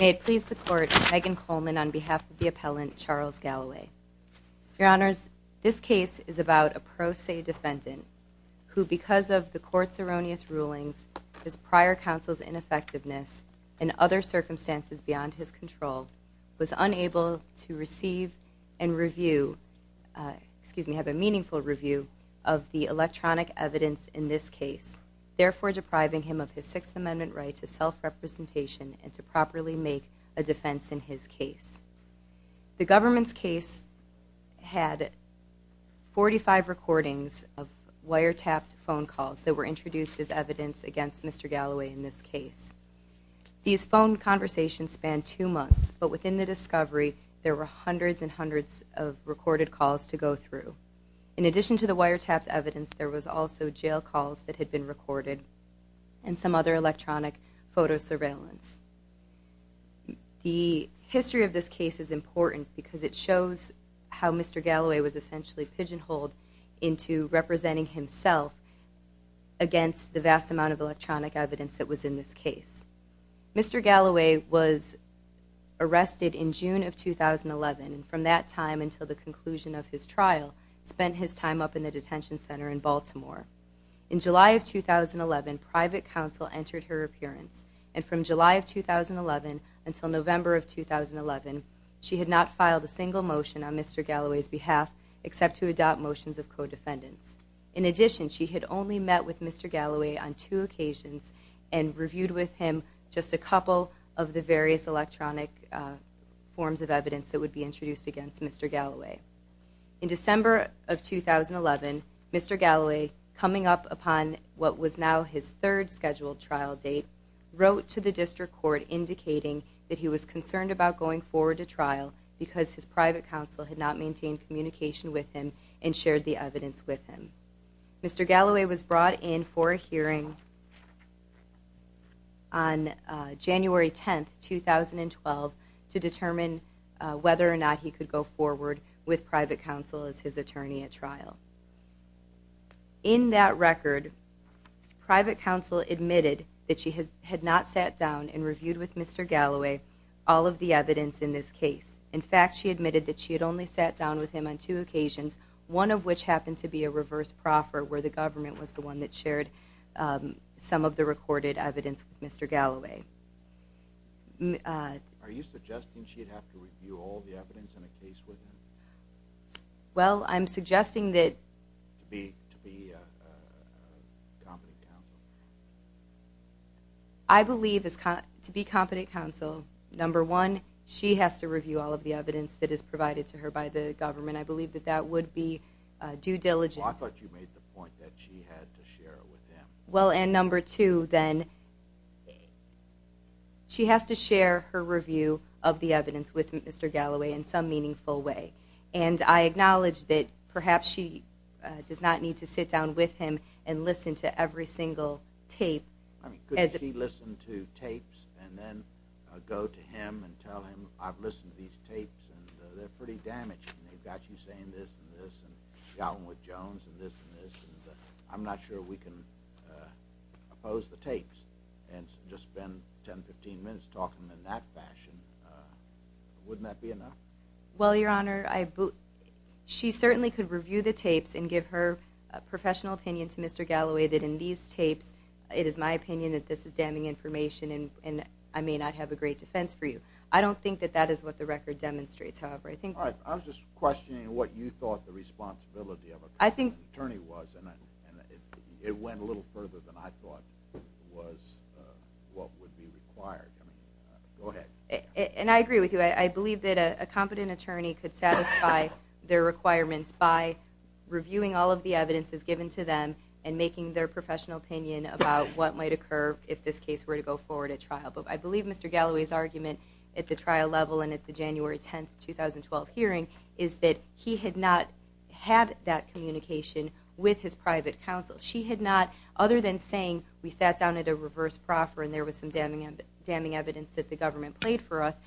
May it please the Court, Megan Coleman on behalf of the appellant Charles Galloway. Your Honors, this case is about a pro se defendant who, because of the Court's erroneous rulings, his prior counsel's ineffectiveness, and other circumstances beyond his control, was unable to receive and have a meaningful review of the electronic evidence in this case, therefore depriving him of his Sixth Amendment right to self-representation and to properly make a defense in his case. The government's case had 45 recordings of wiretapped phone calls that were introduced as evidence against Mr. Galloway in this case. These phone conversations spanned two months, but within the discovery, there were hundreds and hundreds of recorded calls to go through. In addition to the wiretapped evidence, there was also jail calls that had been recorded and some other electronic photo surveillance. The history of this case is important because it shows how Mr. Galloway was essentially pigeonholed into representing himself against the vast amount of electronic evidence that was in this case. Mr. Galloway was arrested in June of 2011, and from that time until the conclusion of his trial, spent his time up in the detention center in Baltimore. In July of 2011, private counsel entered her appearance, and from July of 2011 until November of 2011, she had not filed a single motion on Mr. Galloway's behalf except to adopt motions of co-defendants. In addition, she had only met with Mr. Galloway on two occasions and reviewed with him just a couple of the various electronic forms of evidence that would be introduced against Mr. Galloway. In December of 2011, Mr. Galloway, coming up upon what was now his third scheduled trial date, wrote to the district court indicating that he was concerned about going forward to trial because his private counsel had not maintained communication with him and shared the evidence with him. Mr. Galloway was brought in for a hearing on January 10, 2012, to determine whether or not he could go forward with private counsel as his attorney at trial. In that record, private counsel admitted that she had not sat down and reviewed with Mr. Galloway all of the evidence in this case. In fact, she admitted that she had only sat down with him on two occasions, one of which happened to be a reverse proffer, where the government was the one that shared some of the recorded evidence with Mr. Galloway. Are you suggesting she'd have to review all the evidence in a case with him? Well, I'm suggesting that... To be a competent counsel? I believe to be a competent counsel, number one, she has to review all of the evidence that is provided to her by the government. I believe that that would be due diligence. Well, I thought you made the point that she had to share it with him. Well, and number two, then, she has to share her review of the evidence with Mr. Galloway in some meaningful way. And I acknowledge that perhaps she does not need to sit down with him and listen to every single tape. I mean, could she listen to tapes and then go to him and tell him, I've listened to these tapes and they're pretty damaging. They've got you saying this and this and you've got one with Jones and this and this. I'm not sure we can oppose the tapes and just spend 10, 15 minutes talking in that fashion. Wouldn't that be enough? Well, Your Honor, she certainly could review the tapes and give her professional opinion to Mr. Galloway that in these tapes, it is my opinion that this is damning information and I may not have a great defense for you. I don't think that that is what the record demonstrates. All right, I was just questioning what you thought the responsibility of an attorney was. And it went a little further than I thought was what would be required. Go ahead. And I agree with you. I believe that a competent attorney could satisfy their requirements by reviewing all of the evidence that's given to them and making their professional opinion about what might occur if this case were to go forward at trial. But I believe Mr. Galloway's argument at the trial level and at the January 10, 2012 hearing is that he had not had that communication with his private counsel. She had not, other than saying we sat down at a reverse proffer and there was some damning evidence that the government played for us,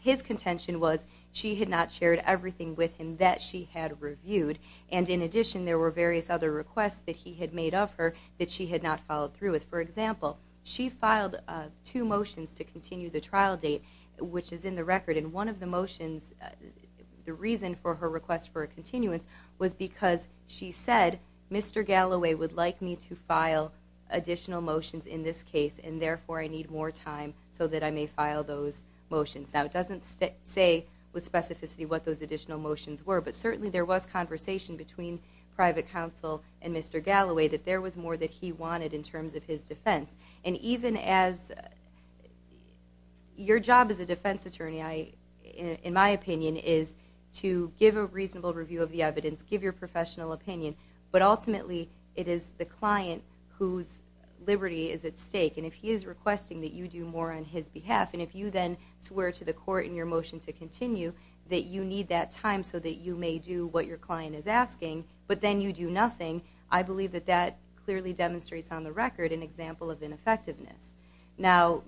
his contention was she had not shared everything with him that she had reviewed. And in addition, there were various other requests that he had made of her that she had not followed through with. For example, she filed two motions to continue the trial date, which is in the record, and one of the motions, the reason for her request for a continuance, was because she said Mr. Galloway would like me to file additional motions in this case and therefore I need more time so that I may file those motions. Now, it doesn't say with specificity what those additional motions were, but certainly there was conversation between private counsel and Mr. Galloway that there was more that he wanted in terms of his defense. And even as your job as a defense attorney, in my opinion, is to give a reasonable review of the evidence, give your professional opinion, but ultimately it is the client whose liberty is at stake. And if he is requesting that you do more on his behalf, and if you then swear to the court in your motion to continue that you need that time so that you may do what your client is asking, but then you do nothing, I believe that that clearly demonstrates on the record an example of ineffectiveness. Now,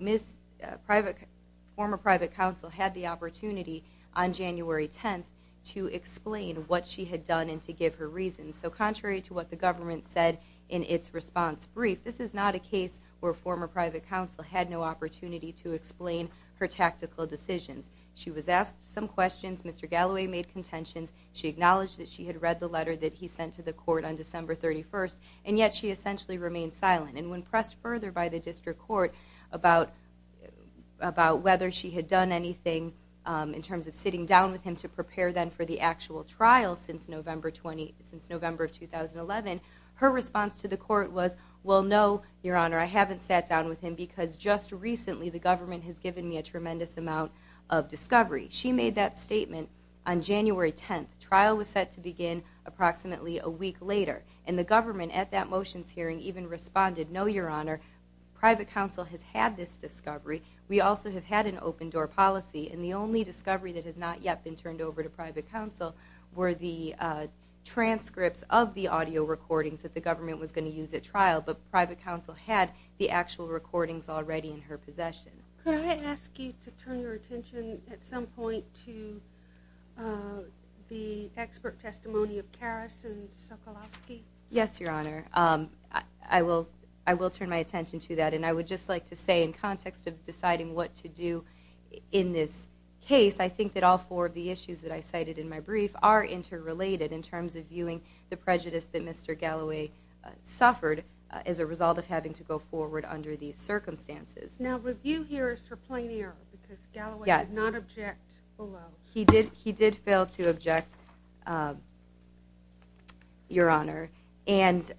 former private counsel had the opportunity on January 10th to explain what she had done and to give her reasons. So contrary to what the government said in its response brief, this is not a case where former private counsel had no opportunity to explain her tactical decisions. She was asked some questions, Mr. Galloway made contentions, she acknowledged that she had read the letter that he sent to the court on December 31st, and yet she essentially remained silent. And when pressed further by the district court about whether she had done anything in terms of sitting down with him to prepare then for the actual trial since November 2011, her response to the court was, well, no, Your Honor, I haven't sat down with him because just recently the government has given me a tremendous amount of discovery. She made that statement on January 10th. The trial was set to begin approximately a week later, and the government at that motions hearing even responded, no, Your Honor, private counsel has had this discovery. We also have had an open-door policy, and the only discovery that has not yet been turned over to private counsel were the transcripts of the audio recordings that the government was going to use at trial, but private counsel had the actual recordings already in her possession. Could I ask you to turn your attention at some point to the expert testimony of Karras and Sokolowski? Yes, Your Honor. I will turn my attention to that, and I would just like to say in context of deciding what to do in this case, I think that all four of the issues that I cited in my brief are interrelated in terms of viewing the prejudice that Mr. Galloway suffered as a result of having to go forward under these circumstances. Now, review here is for plain error, because Galloway did not object below. He did fail to object, Your Honor, and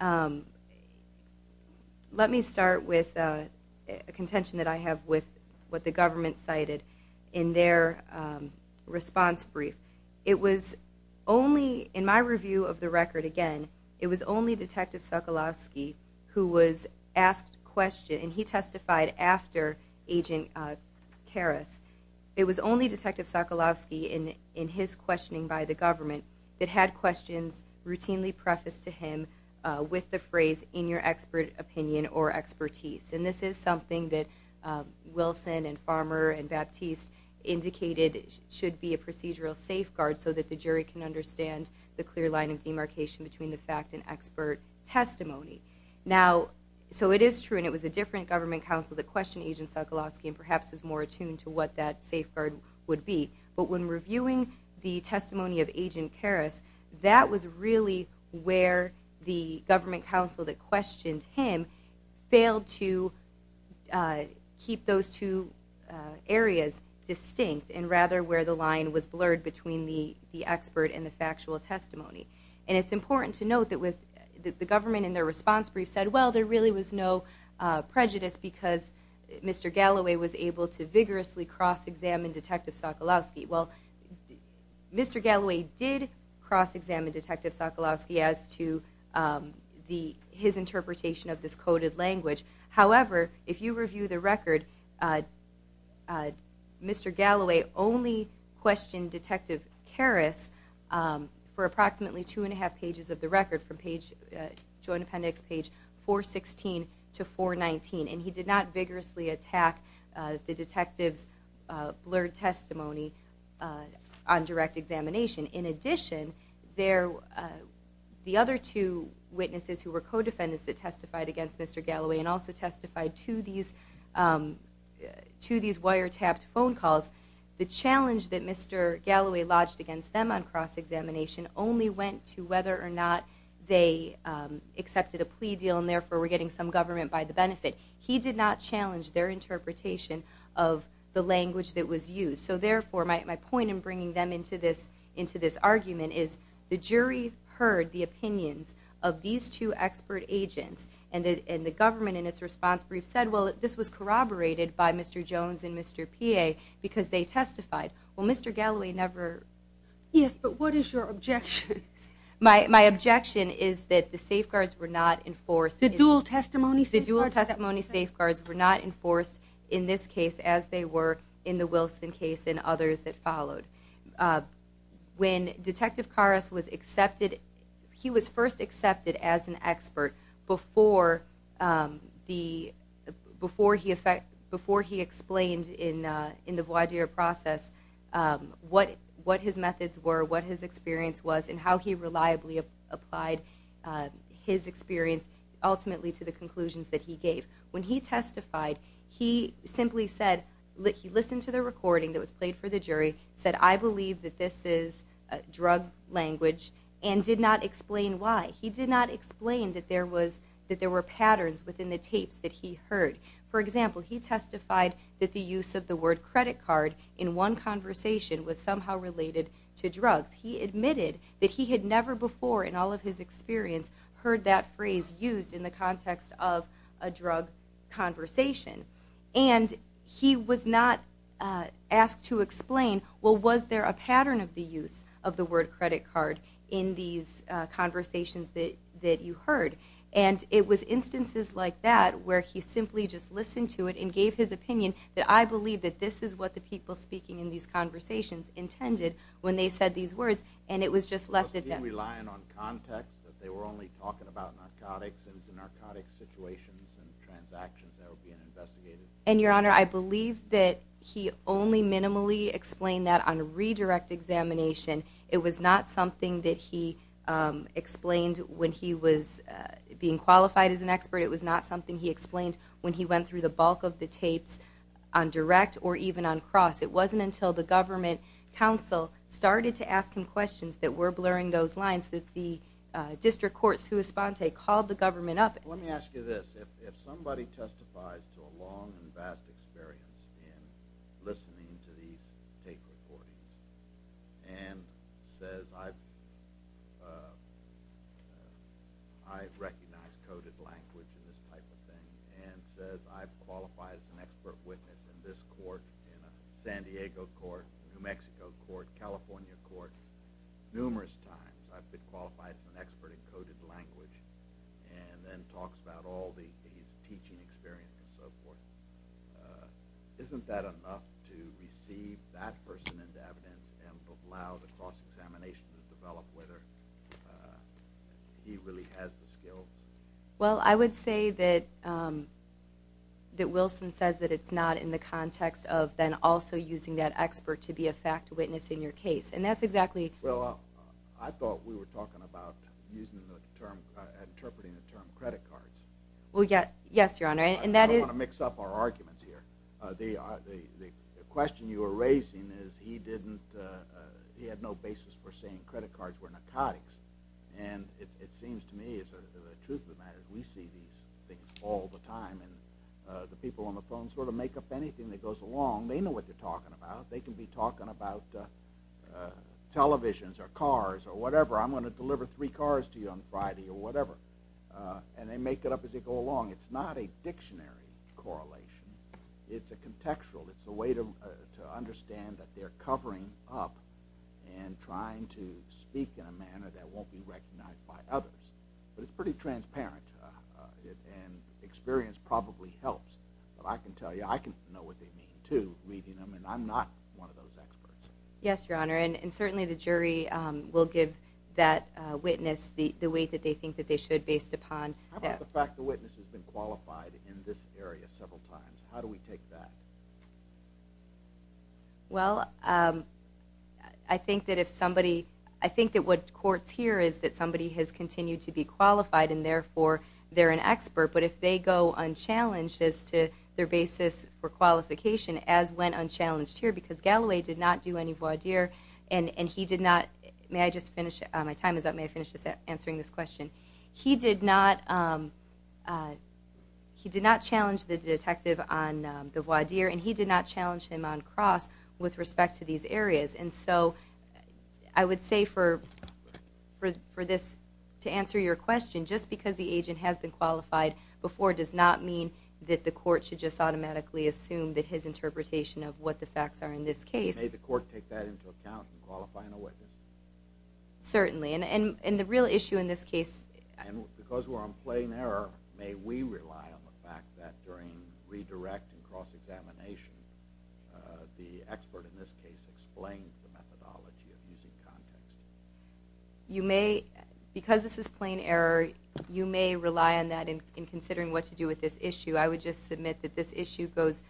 let me start with a contention that I have with what the government cited in their response brief. It was only in my review of the record, again, it was only Detective Sokolowski who was asked questions, and he testified after Agent Karras. It was only Detective Sokolowski in his questioning by the government that had questions routinely prefaced to him with the phrase, in your expert opinion or expertise, and this is something that Wilson and Farmer and Baptiste indicated should be a procedural safeguard so that the jury can understand the clear line of demarcation between the fact and expert testimony. Now, so it is true, and it was a different government counsel that questioned Agent Sokolowski and perhaps was more attuned to what that safeguard would be, but when reviewing the testimony of Agent Karras, that was really where the government counsel that questioned him failed to keep those two areas distinct, and rather where the line was blurred between the expert and the factual testimony. And it's important to note that the government in their response brief said, well, there really was no prejudice because Mr. Galloway was able to vigorously cross-examine Detective Sokolowski. Well, Mr. Galloway did cross-examine Detective Sokolowski as to his interpretation of this coded language. However, if you review the record, Mr. Galloway only questioned Detective Karras for approximately two and a half pages of the record from Joint Appendix page 416 to 419, and he did not vigorously attack the detective's blurred testimony on direct examination. In addition, the other two witnesses who were co-defendants that testified against Mr. Galloway and also testified to these wiretapped phone calls, the challenge that Mr. Galloway lodged against them on cross-examination only went to whether or not they accepted a plea deal and therefore were getting some government by the benefit. He did not challenge their interpretation of the language that was used. So therefore, my point in bringing them into this argument is the jury heard the opinions of these two expert agents and the government in its response brief said, well, this was corroborated by Mr. Jones and Mr. Pia because they testified. Well, Mr. Galloway never. Yes, but what is your objection? My objection is that the safeguards were not enforced. The dual testimony safeguards? The dual testimony safeguards were not enforced in this case as they were in the Wilson case and others that followed. When Detective Karras was accepted, he was first accepted as an expert before he explained in the voir dire process what his methods were, what his experience was, and how he reliably applied his experience ultimately to the conclusions that he gave. When he testified, he simply said, he listened to the recording that was played for the jury, said, I believe that this is drug language and did not explain why. He did not explain that there were patterns within the tapes that he heard. For example, he testified that the use of the word credit card in one conversation was somehow related to drugs. He admitted that he had never before in all of his experience heard that phrase used in the context of a drug conversation. And he was not asked to explain, well, was there a pattern of the use of the word credit card in these conversations that you heard? And it was instances like that where he simply just listened to it and gave his opinion that, well, I believe that this is what the people speaking in these conversations intended when they said these words. And it was just left at that. Was he relying on context that they were only talking about narcotics and the narcotic situations and transactions that were being investigated? And, Your Honor, I believe that he only minimally explained that on a redirect examination. It was not something that he explained when he was being qualified as an expert. It was not something he explained when he went through the bulk of the tapes on direct or even on cross. It wasn't until the government counsel started to ask him questions that were blurring those lines that the district court, Suis Ponte, called the government up. Let me ask you this. If somebody testifies to a long and vast experience in listening to these tape recordings and says, I recognize coded language and this type of thing and says, I've qualified as an expert witness in this court, in a San Diego court, New Mexico court, California court, numerous times, I've been qualified as an expert in coded language, and then talks about all the teaching experience and so forth, isn't that enough to receive that person into evidence and allow the cross examination to develop whether he really has the skills? Well, I would say that Wilson says that it's not in the context of then also using that expert to be a fact witness in your case. Well, I thought we were talking about interpreting the term credit cards. Well, yes, your honor. I don't want to mix up our arguments here. The question you were raising is he had no basis for saying credit cards were narcotics. And it seems to me, the truth of the matter, we see these things all the time. And the people on the phone sort of make up anything that goes along. They know what they're talking about. They can be talking about televisions or cars or whatever. I'm going to deliver three cars to you on Friday or whatever. And they make it up as they go along. It's not a dictionary correlation. It's a contextual. It's a way to understand that they're covering up and trying to speak in a manner that won't be recognized by others. But it's pretty transparent. And experience probably helps. But I can tell you, I can know what they mean, too, reading them. And I'm not one of those experts. Yes, your honor. And certainly the jury will give that witness the weight that they think that they should based upon. How about the fact the witness has been qualified in this area several times? How do we take that? Well, I think that if somebody – I think that what courts hear is that somebody has continued to be qualified and therefore they're an expert. But if they go unchallenged as to their basis for qualification, as went unchallenged here, because Galloway did not do any voir dire, and he did not – may I just finish? My time is up. May I finish just answering this question? He did not challenge the detective on the voir dire, and he did not challenge him on cross with respect to these areas. And so I would say for this, to answer your question, just because the agent has been qualified before does not mean that the court should just automatically assume that his interpretation of what the facts are in this case. May the court take that into account in qualifying a witness? Certainly. And the real issue in this case – And because we're on plain error, may we rely on the fact that during redirect and cross-examination, the expert in this case explains the methodology of using context? You may – because this is plain error, you may rely on that in considering what to do with this issue. I would just submit that this issue goes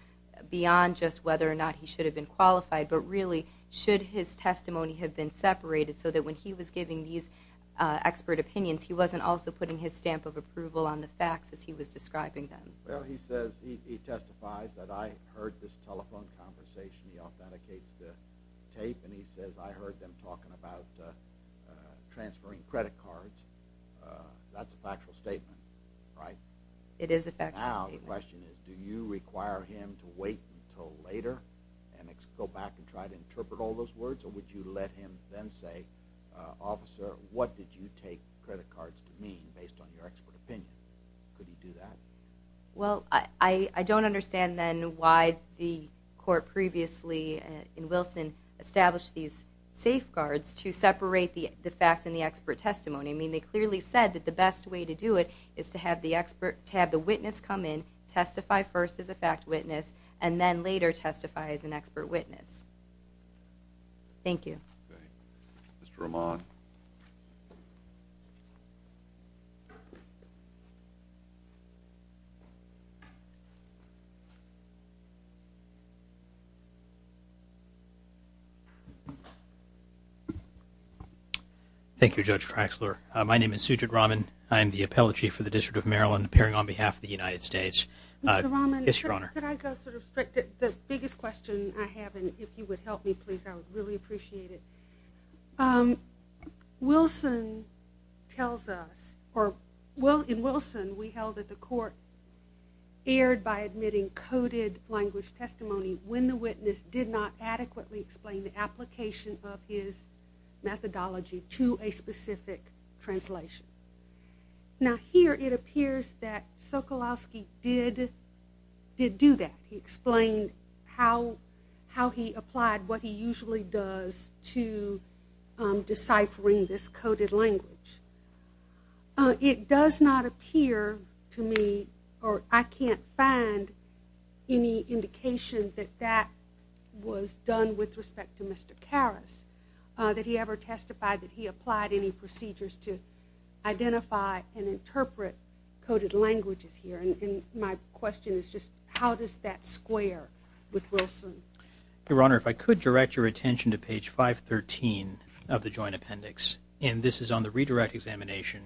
beyond just whether or not he should have been qualified, but really should his testimony have been separated so that when he was giving these expert opinions, he wasn't also putting his stamp of approval on the facts as he was describing them? Well, he says – he testifies that I heard this telephone conversation. He authenticates the tape, and he says I heard them talking about transferring credit cards. That's a factual statement, right? It is a factual statement. Now the question is, do you require him to wait until later and go back and try to interpret all those words, or would you let him then say, officer, what did you take credit cards to mean based on your expert opinion? Could he do that? Well, I don't understand then why the court previously in Wilson established these safeguards to separate the fact and the expert testimony. I mean, they clearly said that the best way to do it is to have the witness come in, testify first as a fact witness, and then later testify as an expert witness. Thank you. Mr. Rahman. Thank you, Judge Traxler. My name is Sujit Rahman. I am the Appellate Chief for the District of Maryland, appearing on behalf of the United States. Mr. Rahman, could I go sort of – the biggest question I have, and if you would help me, please, I would really appreciate it. Wilson tells us, or in Wilson, we held that the court erred by admitting coded language testimony when the witness did not adequately explain the application of his methodology to a specific translation. Now here it appears that Sokolowski did do that. He explained how he applied what he usually does to deciphering this coded language. It does not appear to me, or I can't find any indication that that was done with respect to Mr. Karas, that he ever testified that he applied any procedures to identify and interpret coded languages here. And my question is just how does that square with Wilson? Your Honor, if I could direct your attention to page 513 of the Joint Appendix, and this is on the redirect examination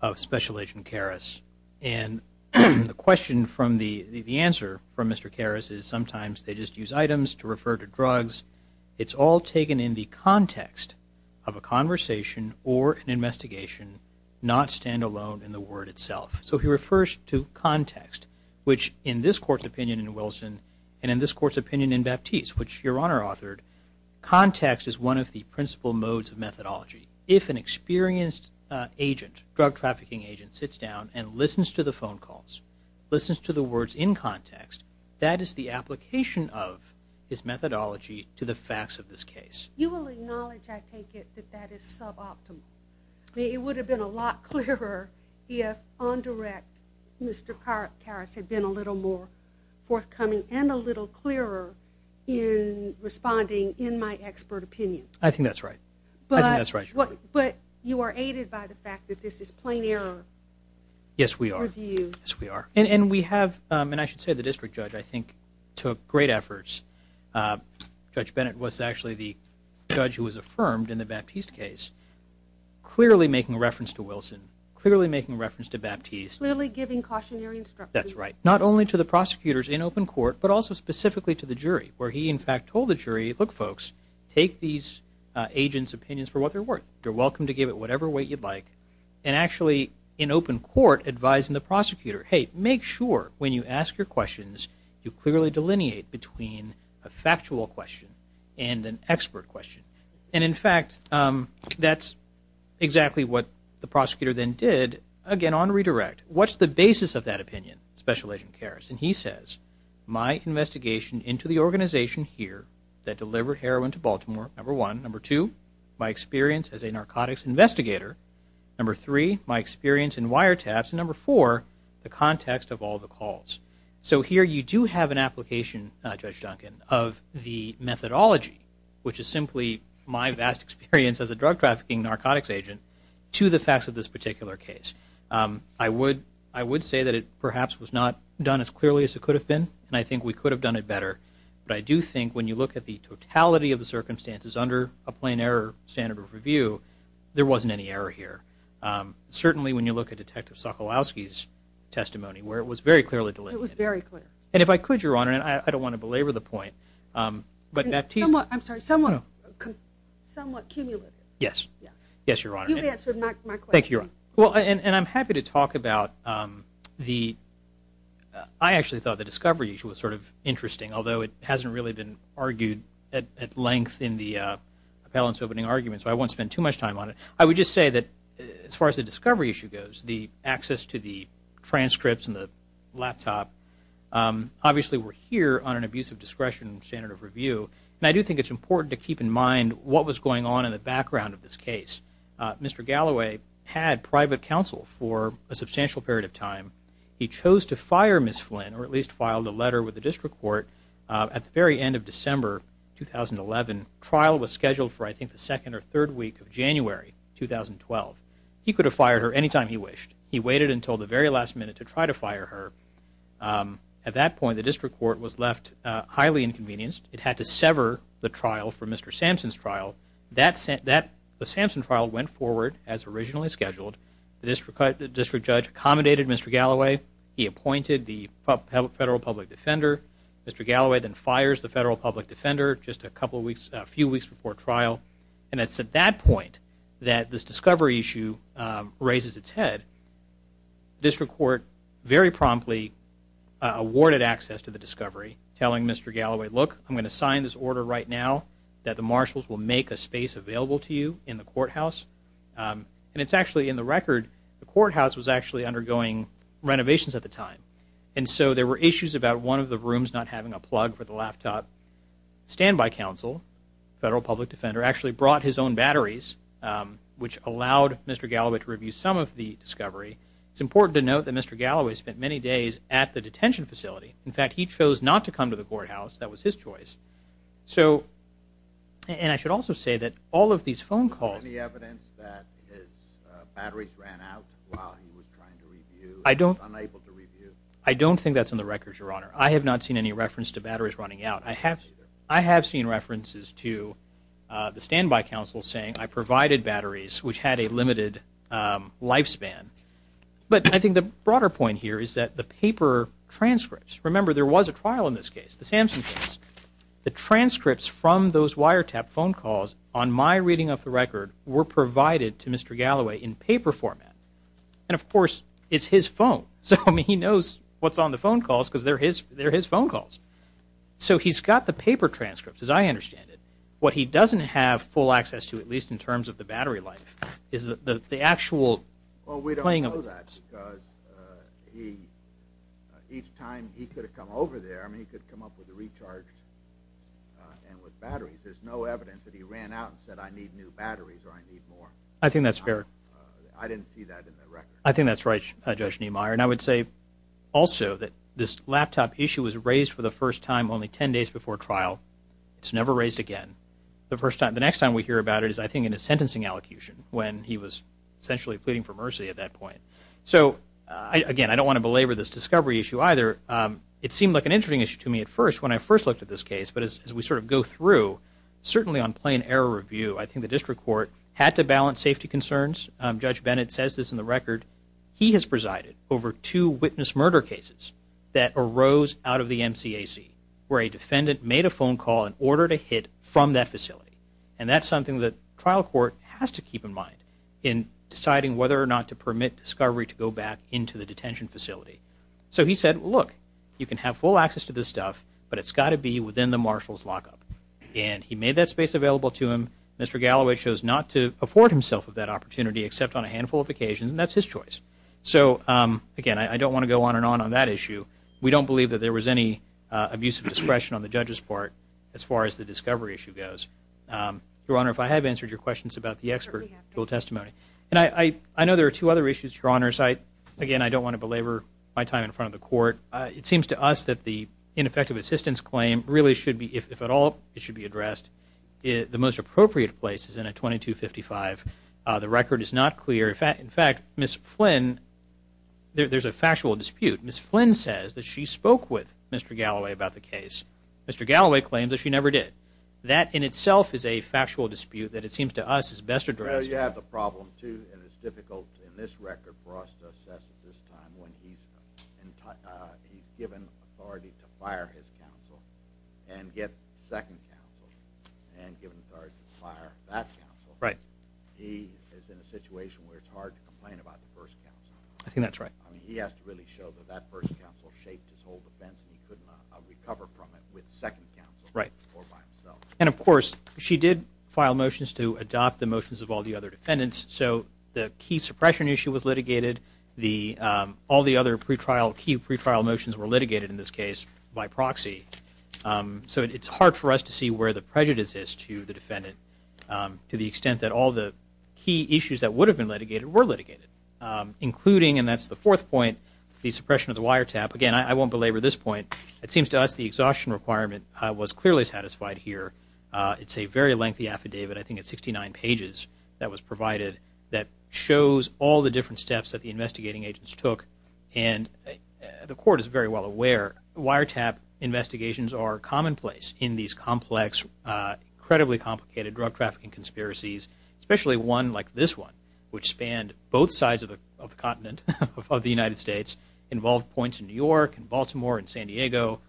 of Special Agent Karas. And the question from the – the answer from Mr. Karas is sometimes they just use items to refer to drugs. It's all taken in the context of a conversation or an investigation, not standalone in the word itself. So he refers to context, which in this court's opinion in Wilson and in this court's opinion in Baptiste, which Your Honor authored, context is one of the principal modes of methodology. If an experienced agent, drug trafficking agent, sits down and listens to the phone calls, listens to the words in context, that is the application of his methodology to the facts of this case. You will acknowledge, I take it, that that is suboptimal. It would have been a lot clearer if on direct Mr. Karas had been a little more forthcoming and a little clearer in responding in my expert opinion. I think that's right. I think that's right, Your Honor. But you are aided by the fact that this is plain error. Yes, we are. Yes, we are. And we have – and I should say the district judge, I think, took great efforts. Judge Bennett was actually the judge who was affirmed in the Baptiste case, clearly making reference to Wilson, clearly making reference to Baptiste. Clearly giving cautionary instructions. That's right. Not only to the prosecutors in open court, but also specifically to the jury, where he in fact told the jury, look, folks, take these agents' opinions for what they're worth. You're welcome to give it whatever weight you'd like. And actually in open court advising the prosecutor, hey, make sure when you ask your questions, you clearly delineate between a factual question and an expert question. And in fact, that's exactly what the prosecutor then did, again, on redirect. What's the basis of that opinion, Special Agent Karas? And he says, my investigation into the organization here that delivered heroin to Baltimore, number one. Number two, my experience as a narcotics investigator. Number three, my experience in wiretaps. And number four, the context of all the calls. So here you do have an application, Judge Duncan, of the methodology, which is simply my vast experience as a drug trafficking narcotics agent, to the facts of this particular case. I would say that it perhaps was not done as clearly as it could have been, and I think we could have done it better. But I do think when you look at the totality of the circumstances under a plain error standard of review, there wasn't any error here. Certainly when you look at Detective Sokolowski's testimony, where it was very clearly delineated. It was very clear. And if I could, Your Honor, and I don't want to belabor the point. I'm sorry, somewhat cumulative. Yes, Your Honor. You answered my question. Thank you, Your Honor. And I'm happy to talk about the – I actually thought the discovery was sort of interesting, although it hasn't really been argued at length in the appellant's opening argument, so I won't spend too much time on it. I would just say that as far as the discovery issue goes, the access to the transcripts and the laptop, obviously we're here on an abuse of discretion standard of review, and I do think it's important to keep in mind what was going on in the background of this case. Mr. Galloway had private counsel for a substantial period of time. He chose to fire Ms. Flynn, or at least filed a letter with the district court at the very end of December 2011. The trial was scheduled for, I think, the second or third week of January 2012. He could have fired her any time he wished. He waited until the very last minute to try to fire her. At that point, the district court was left highly inconvenienced. It had to sever the trial for Mr. Sampson's trial. The Sampson trial went forward as originally scheduled. The district judge accommodated Mr. Galloway. He appointed the federal public defender. Mr. Galloway then fires the federal public defender just a few weeks before trial. And it's at that point that this discovery issue raises its head. The district court very promptly awarded access to the discovery, telling Mr. Galloway, look, I'm going to sign this order right now that the marshals will make a space available to you in the courthouse. And it's actually in the record, the courthouse was actually undergoing renovations at the time. And so there were issues about one of the rooms not having a plug for the laptop. Standby counsel, federal public defender, actually brought his own batteries, which allowed Mr. Galloway to review some of the discovery. It's important to note that Mr. Galloway spent many days at the detention facility. In fact, he chose not to come to the courthouse. That was his choice. So, and I should also say that all of these phone calls. Do you have any evidence that his batteries ran out while he was trying to review? I don't. Unable to review? I don't think that's in the records, Your Honor. I have not seen any reference to batteries running out. I have seen references to the standby counsel saying, I provided batteries, which had a limited lifespan. But I think the broader point here is that the paper transcripts, remember there was a trial in this case, the Samson case. The transcripts from those wiretap phone calls on my reading of the record were provided to Mr. Galloway in paper format. And, of course, it's his phone. So, I mean, he knows what's on the phone calls because they're his phone calls. So he's got the paper transcripts, as I understand it. What he doesn't have full access to, at least in terms of the battery life, is the actual playing of the tapes. Because each time he could have come over there, I mean, he could have come up with a recharged and with batteries. There's no evidence that he ran out and said, I need new batteries or I need more. I think that's fair. I didn't see that in the record. I think that's right, Judge Niemeyer. And I would say also that this laptop issue was raised for the first time only 10 days before trial. It's never raised again. The next time we hear about it is, I think, in his sentencing allocution when he was essentially pleading for mercy at that point. So, again, I don't want to belabor this discovery issue either. It seemed like an interesting issue to me at first when I first looked at this case. But as we sort of go through, certainly on plain error review, I think the district court had to balance safety concerns. Judge Bennett says this in the record. He has presided over two witness murder cases that arose out of the MCAC where a defendant made a phone call and ordered a hit from that facility. And that's something that trial court has to keep in mind in deciding whether or not to permit discovery to go back into the detention facility. So he said, look, you can have full access to this stuff, but it's got to be within the marshal's lockup. And he made that space available to him. Mr. Galloway chose not to afford himself with that opportunity except on a handful of occasions, and that's his choice. So, again, I don't want to go on and on on that issue. We don't believe that there was any abusive discretion on the judge's part as far as the discovery issue goes. Your Honor, if I have answered your questions about the expert testimony. And I know there are two other issues, Your Honors. Again, I don't want to belabor my time in front of the court. It seems to us that the ineffective assistance claim really should be, if at all, it should be addressed. The most appropriate place is in a 2255. The record is not clear. In fact, Ms. Flynn, there's a factual dispute. Ms. Flynn says that she spoke with Mr. Galloway about the case. Mr. Galloway claims that she never did. That in itself is a factual dispute that it seems to us is best addressed. Well, you have the problem, too, and it's difficult in this record for us to assess at this time when he's given authority to fire his counsel and get second counsel and given authority to fire that counsel. He is in a situation where it's hard to complain about the first counsel. I think that's right. I mean, he has to really show that that first counsel shaped his whole defense and he could not recover from it with second counsel or by himself. And, of course, she did file motions to adopt the motions of all the other defendants. So the key suppression issue was litigated. All the other key pretrial motions were litigated in this case by proxy. So it's hard for us to see where the prejudice is to the defendant to the extent that all the key issues that would have been litigated were litigated, including, and that's the fourth point, the suppression of the wiretap. Again, I won't belabor this point. It seems to us the exhaustion requirement was clearly satisfied here. It's a very lengthy affidavit. I think it's 69 pages that was provided that shows all the different steps that the investigating agents took. And the court is very well aware wiretap investigations are commonplace in these complex, incredibly complicated drug trafficking conspiracies, especially one like this one, which spanned both sides of the continent of the United States, involved points in New York and Baltimore and San Diego,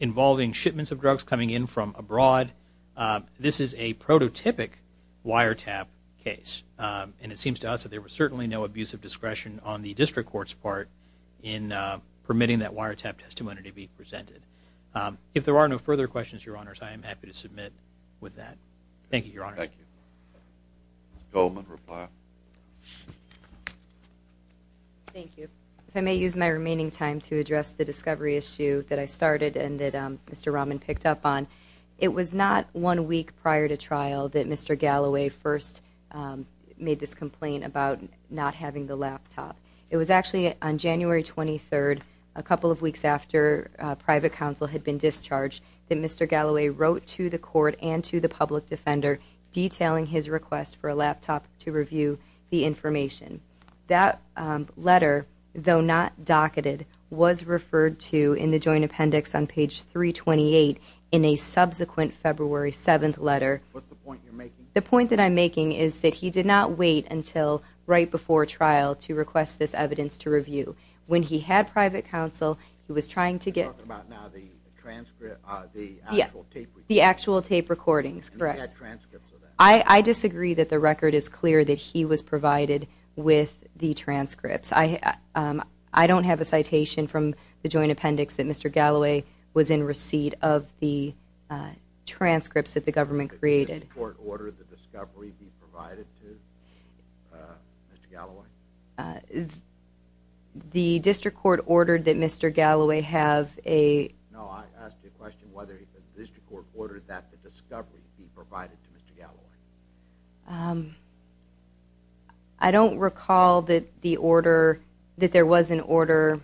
involving shipments of drugs coming in from abroad. This is a prototypic wiretap case. And it seems to us that there was certainly no abusive discretion on the district court's part in permitting that wiretap testimony to be presented. If there are no further questions, Your Honors, I am happy to submit with that. Thank you, Your Honors. Thank you. Ms. Goldman, reply. Thank you. If I may use my remaining time to address the discovery issue that I started and that Mr. Rahman picked up on, it was not one week prior to trial that Mr. Galloway first made this complaint about not having the laptop. It was actually on January 23rd, a couple of weeks after private counsel had been discharged, that Mr. Galloway wrote to the court and to the public defender detailing his request for a laptop to review the information. That letter, though not docketed, was referred to in the joint appendix on page 328 in a subsequent February 7th letter. What's the point you're making? The point that I'm making is that he did not wait until right before trial to request this evidence to review. When he had private counsel, he was trying to get... You're talking about now the transcript, the actual tape. The actual tape recordings, correct. And he had transcripts of that. I disagree that the record is clear that he was provided with the transcripts. I don't have a citation from the joint appendix that Mr. Galloway was in receipt of the transcripts that the government created. Did the district court order the discovery be provided to Mr. Galloway? The district court ordered that Mr. Galloway have a... No, I asked you a question whether the district court ordered that the discovery be provided to Mr. Galloway. I don't recall that there was an order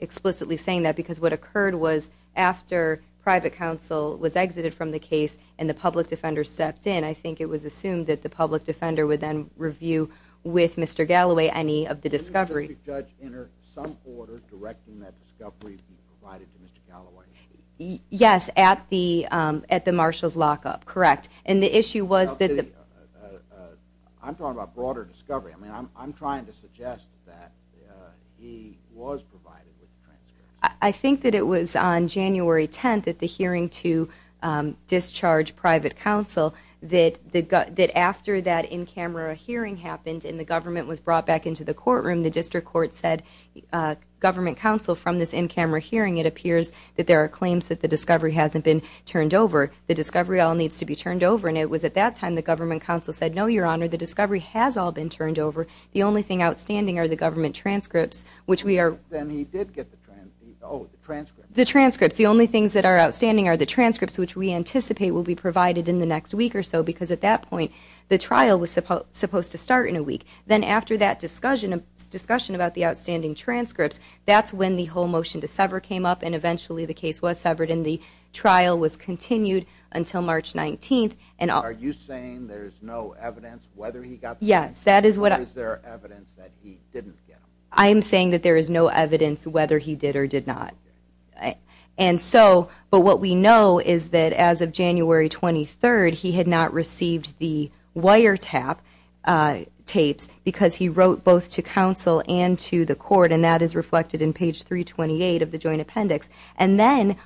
explicitly saying that because what occurred was after private counsel was exited from the case and the public defender stepped in, I think it was assumed that the public defender would then review with Mr. Galloway any of the discovery. Did the district judge enter some order directing that discovery be provided to Mr. Galloway? Yes, at the marshal's lockup, correct. And the issue was that... I'm talking about broader discovery. I mean, I'm trying to suggest that he was provided with the transcripts. I think that it was on January 10th at the hearing to discharge private counsel that after that in-camera hearing happened and the government was brought back into the courtroom, the district court said, government counsel, from this in-camera hearing, it appears that there are claims that the discovery hasn't been turned over. The discovery all needs to be turned over. And it was at that time the government counsel said, no, your honor, the discovery has all been turned over. The only thing outstanding are the government transcripts, which we are... Then he did get the transcripts. The transcripts, the only things that are outstanding are the transcripts, which we anticipate will be provided in the next week or so, because at that point the trial was supposed to start in a week. Then after that discussion about the outstanding transcripts, that's when the whole motion to sever came up and eventually the case was severed and the trial was continued until March 19th. Are you saying there's no evidence whether he got the transcripts? Yes, that is what I... Or is there evidence that he didn't get them? I am saying that there is no evidence whether he did or did not. And so, but what we know is that as of January 23rd, he had not received the wiretap tapes because he wrote both to counsel and to the court, and that is reflected in page 328 of the joint appendix. And then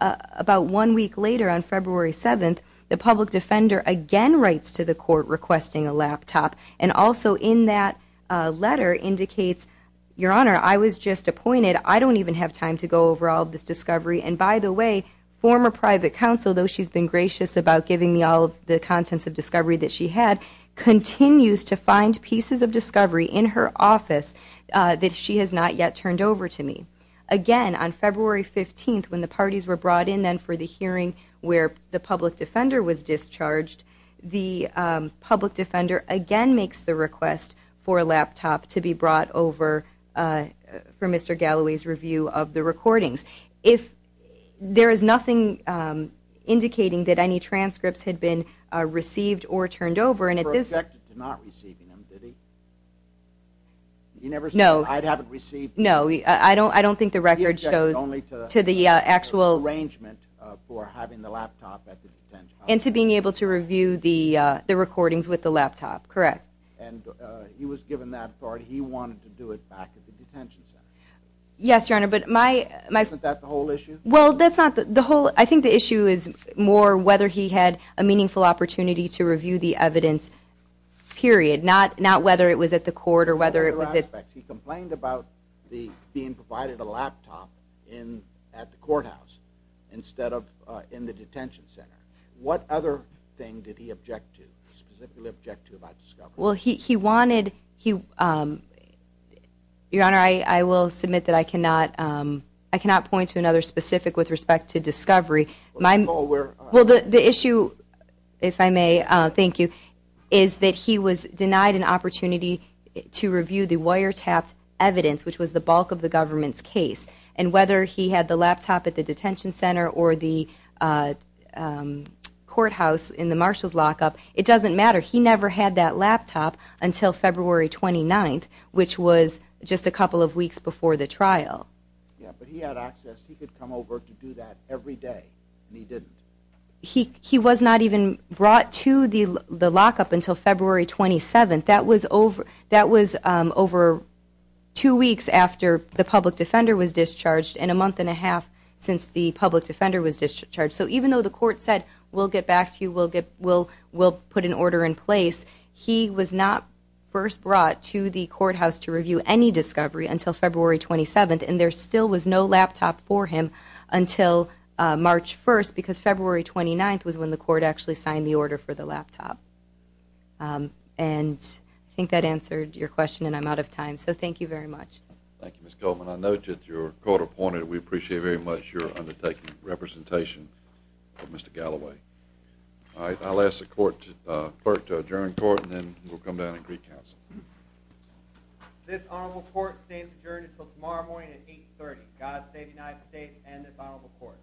about one week later on February 7th, the public defender again writes to the court requesting a laptop, and also in that letter indicates, your honor, I was just appointed. I don't even have time to go over all of this discovery. And by the way, former private counsel, though she's been gracious about giving me all of the contents of discovery that she had, continues to find pieces of discovery in her office that she has not yet turned over to me. Again, on February 15th, when the parties were brought in then for the hearing where the public defender was discharged, the public defender again makes the request for a laptop to be brought over for Mr. Galloway's review of the recordings. If there is nothing indicating that any transcripts had been received or turned over, and at this... He was rejected to not receiving them, did he? You never said, I haven't received them. No, I don't think the record shows to the actual... He was rejected only to the arrangement for having the laptop at the detention house. And to being able to review the recordings with the laptop, correct. And he was given that authority. He wanted to do it back at the detention center. Yes, Your Honor, but my... Isn't that the whole issue? Well, that's not the whole... I think the issue is more whether he had a meaningful opportunity to review the evidence, period. Not whether it was at the court or whether it was at... Other aspects. He complained about being provided a laptop at the courthouse instead of in the detention center. What other thing did he object to, specifically object to about discovery? Well, he wanted... Your Honor, I will submit that I cannot point to another specific with respect to discovery. Well, the issue, if I may, thank you, is that he was denied an opportunity to review the wiretapped evidence, which was the bulk of the government's case. And whether he had the laptop at the detention center or the courthouse in the Marshalls lockup, it doesn't matter. He never had that laptop until February 29th, which was just a couple of weeks before the trial. Yeah, but he had access. He could come over to do that every day, and he didn't. He was not even brought to the lockup until February 27th. That was over two weeks after the public defender was discharged and a month and a half since the public defender was discharged. So even though the court said, we'll get back to you, we'll put an order in place, he was not first brought to the courthouse to review any discovery until February 27th, and there still was no laptop for him until March 1st, because February 29th was when the court actually signed the order for the laptop. And I think that answered your question, and I'm out of time. So thank you very much. Thank you, Ms. Goldman. I note that you're court appointed. We appreciate very much your undertaking representation for Mr. Galloway. All right, I'll ask the clerk to adjourn court, and then we'll come down and agree counsel. This honorable court stays adjourned until tomorrow morning at 8.30. God save the United States and this honorable court.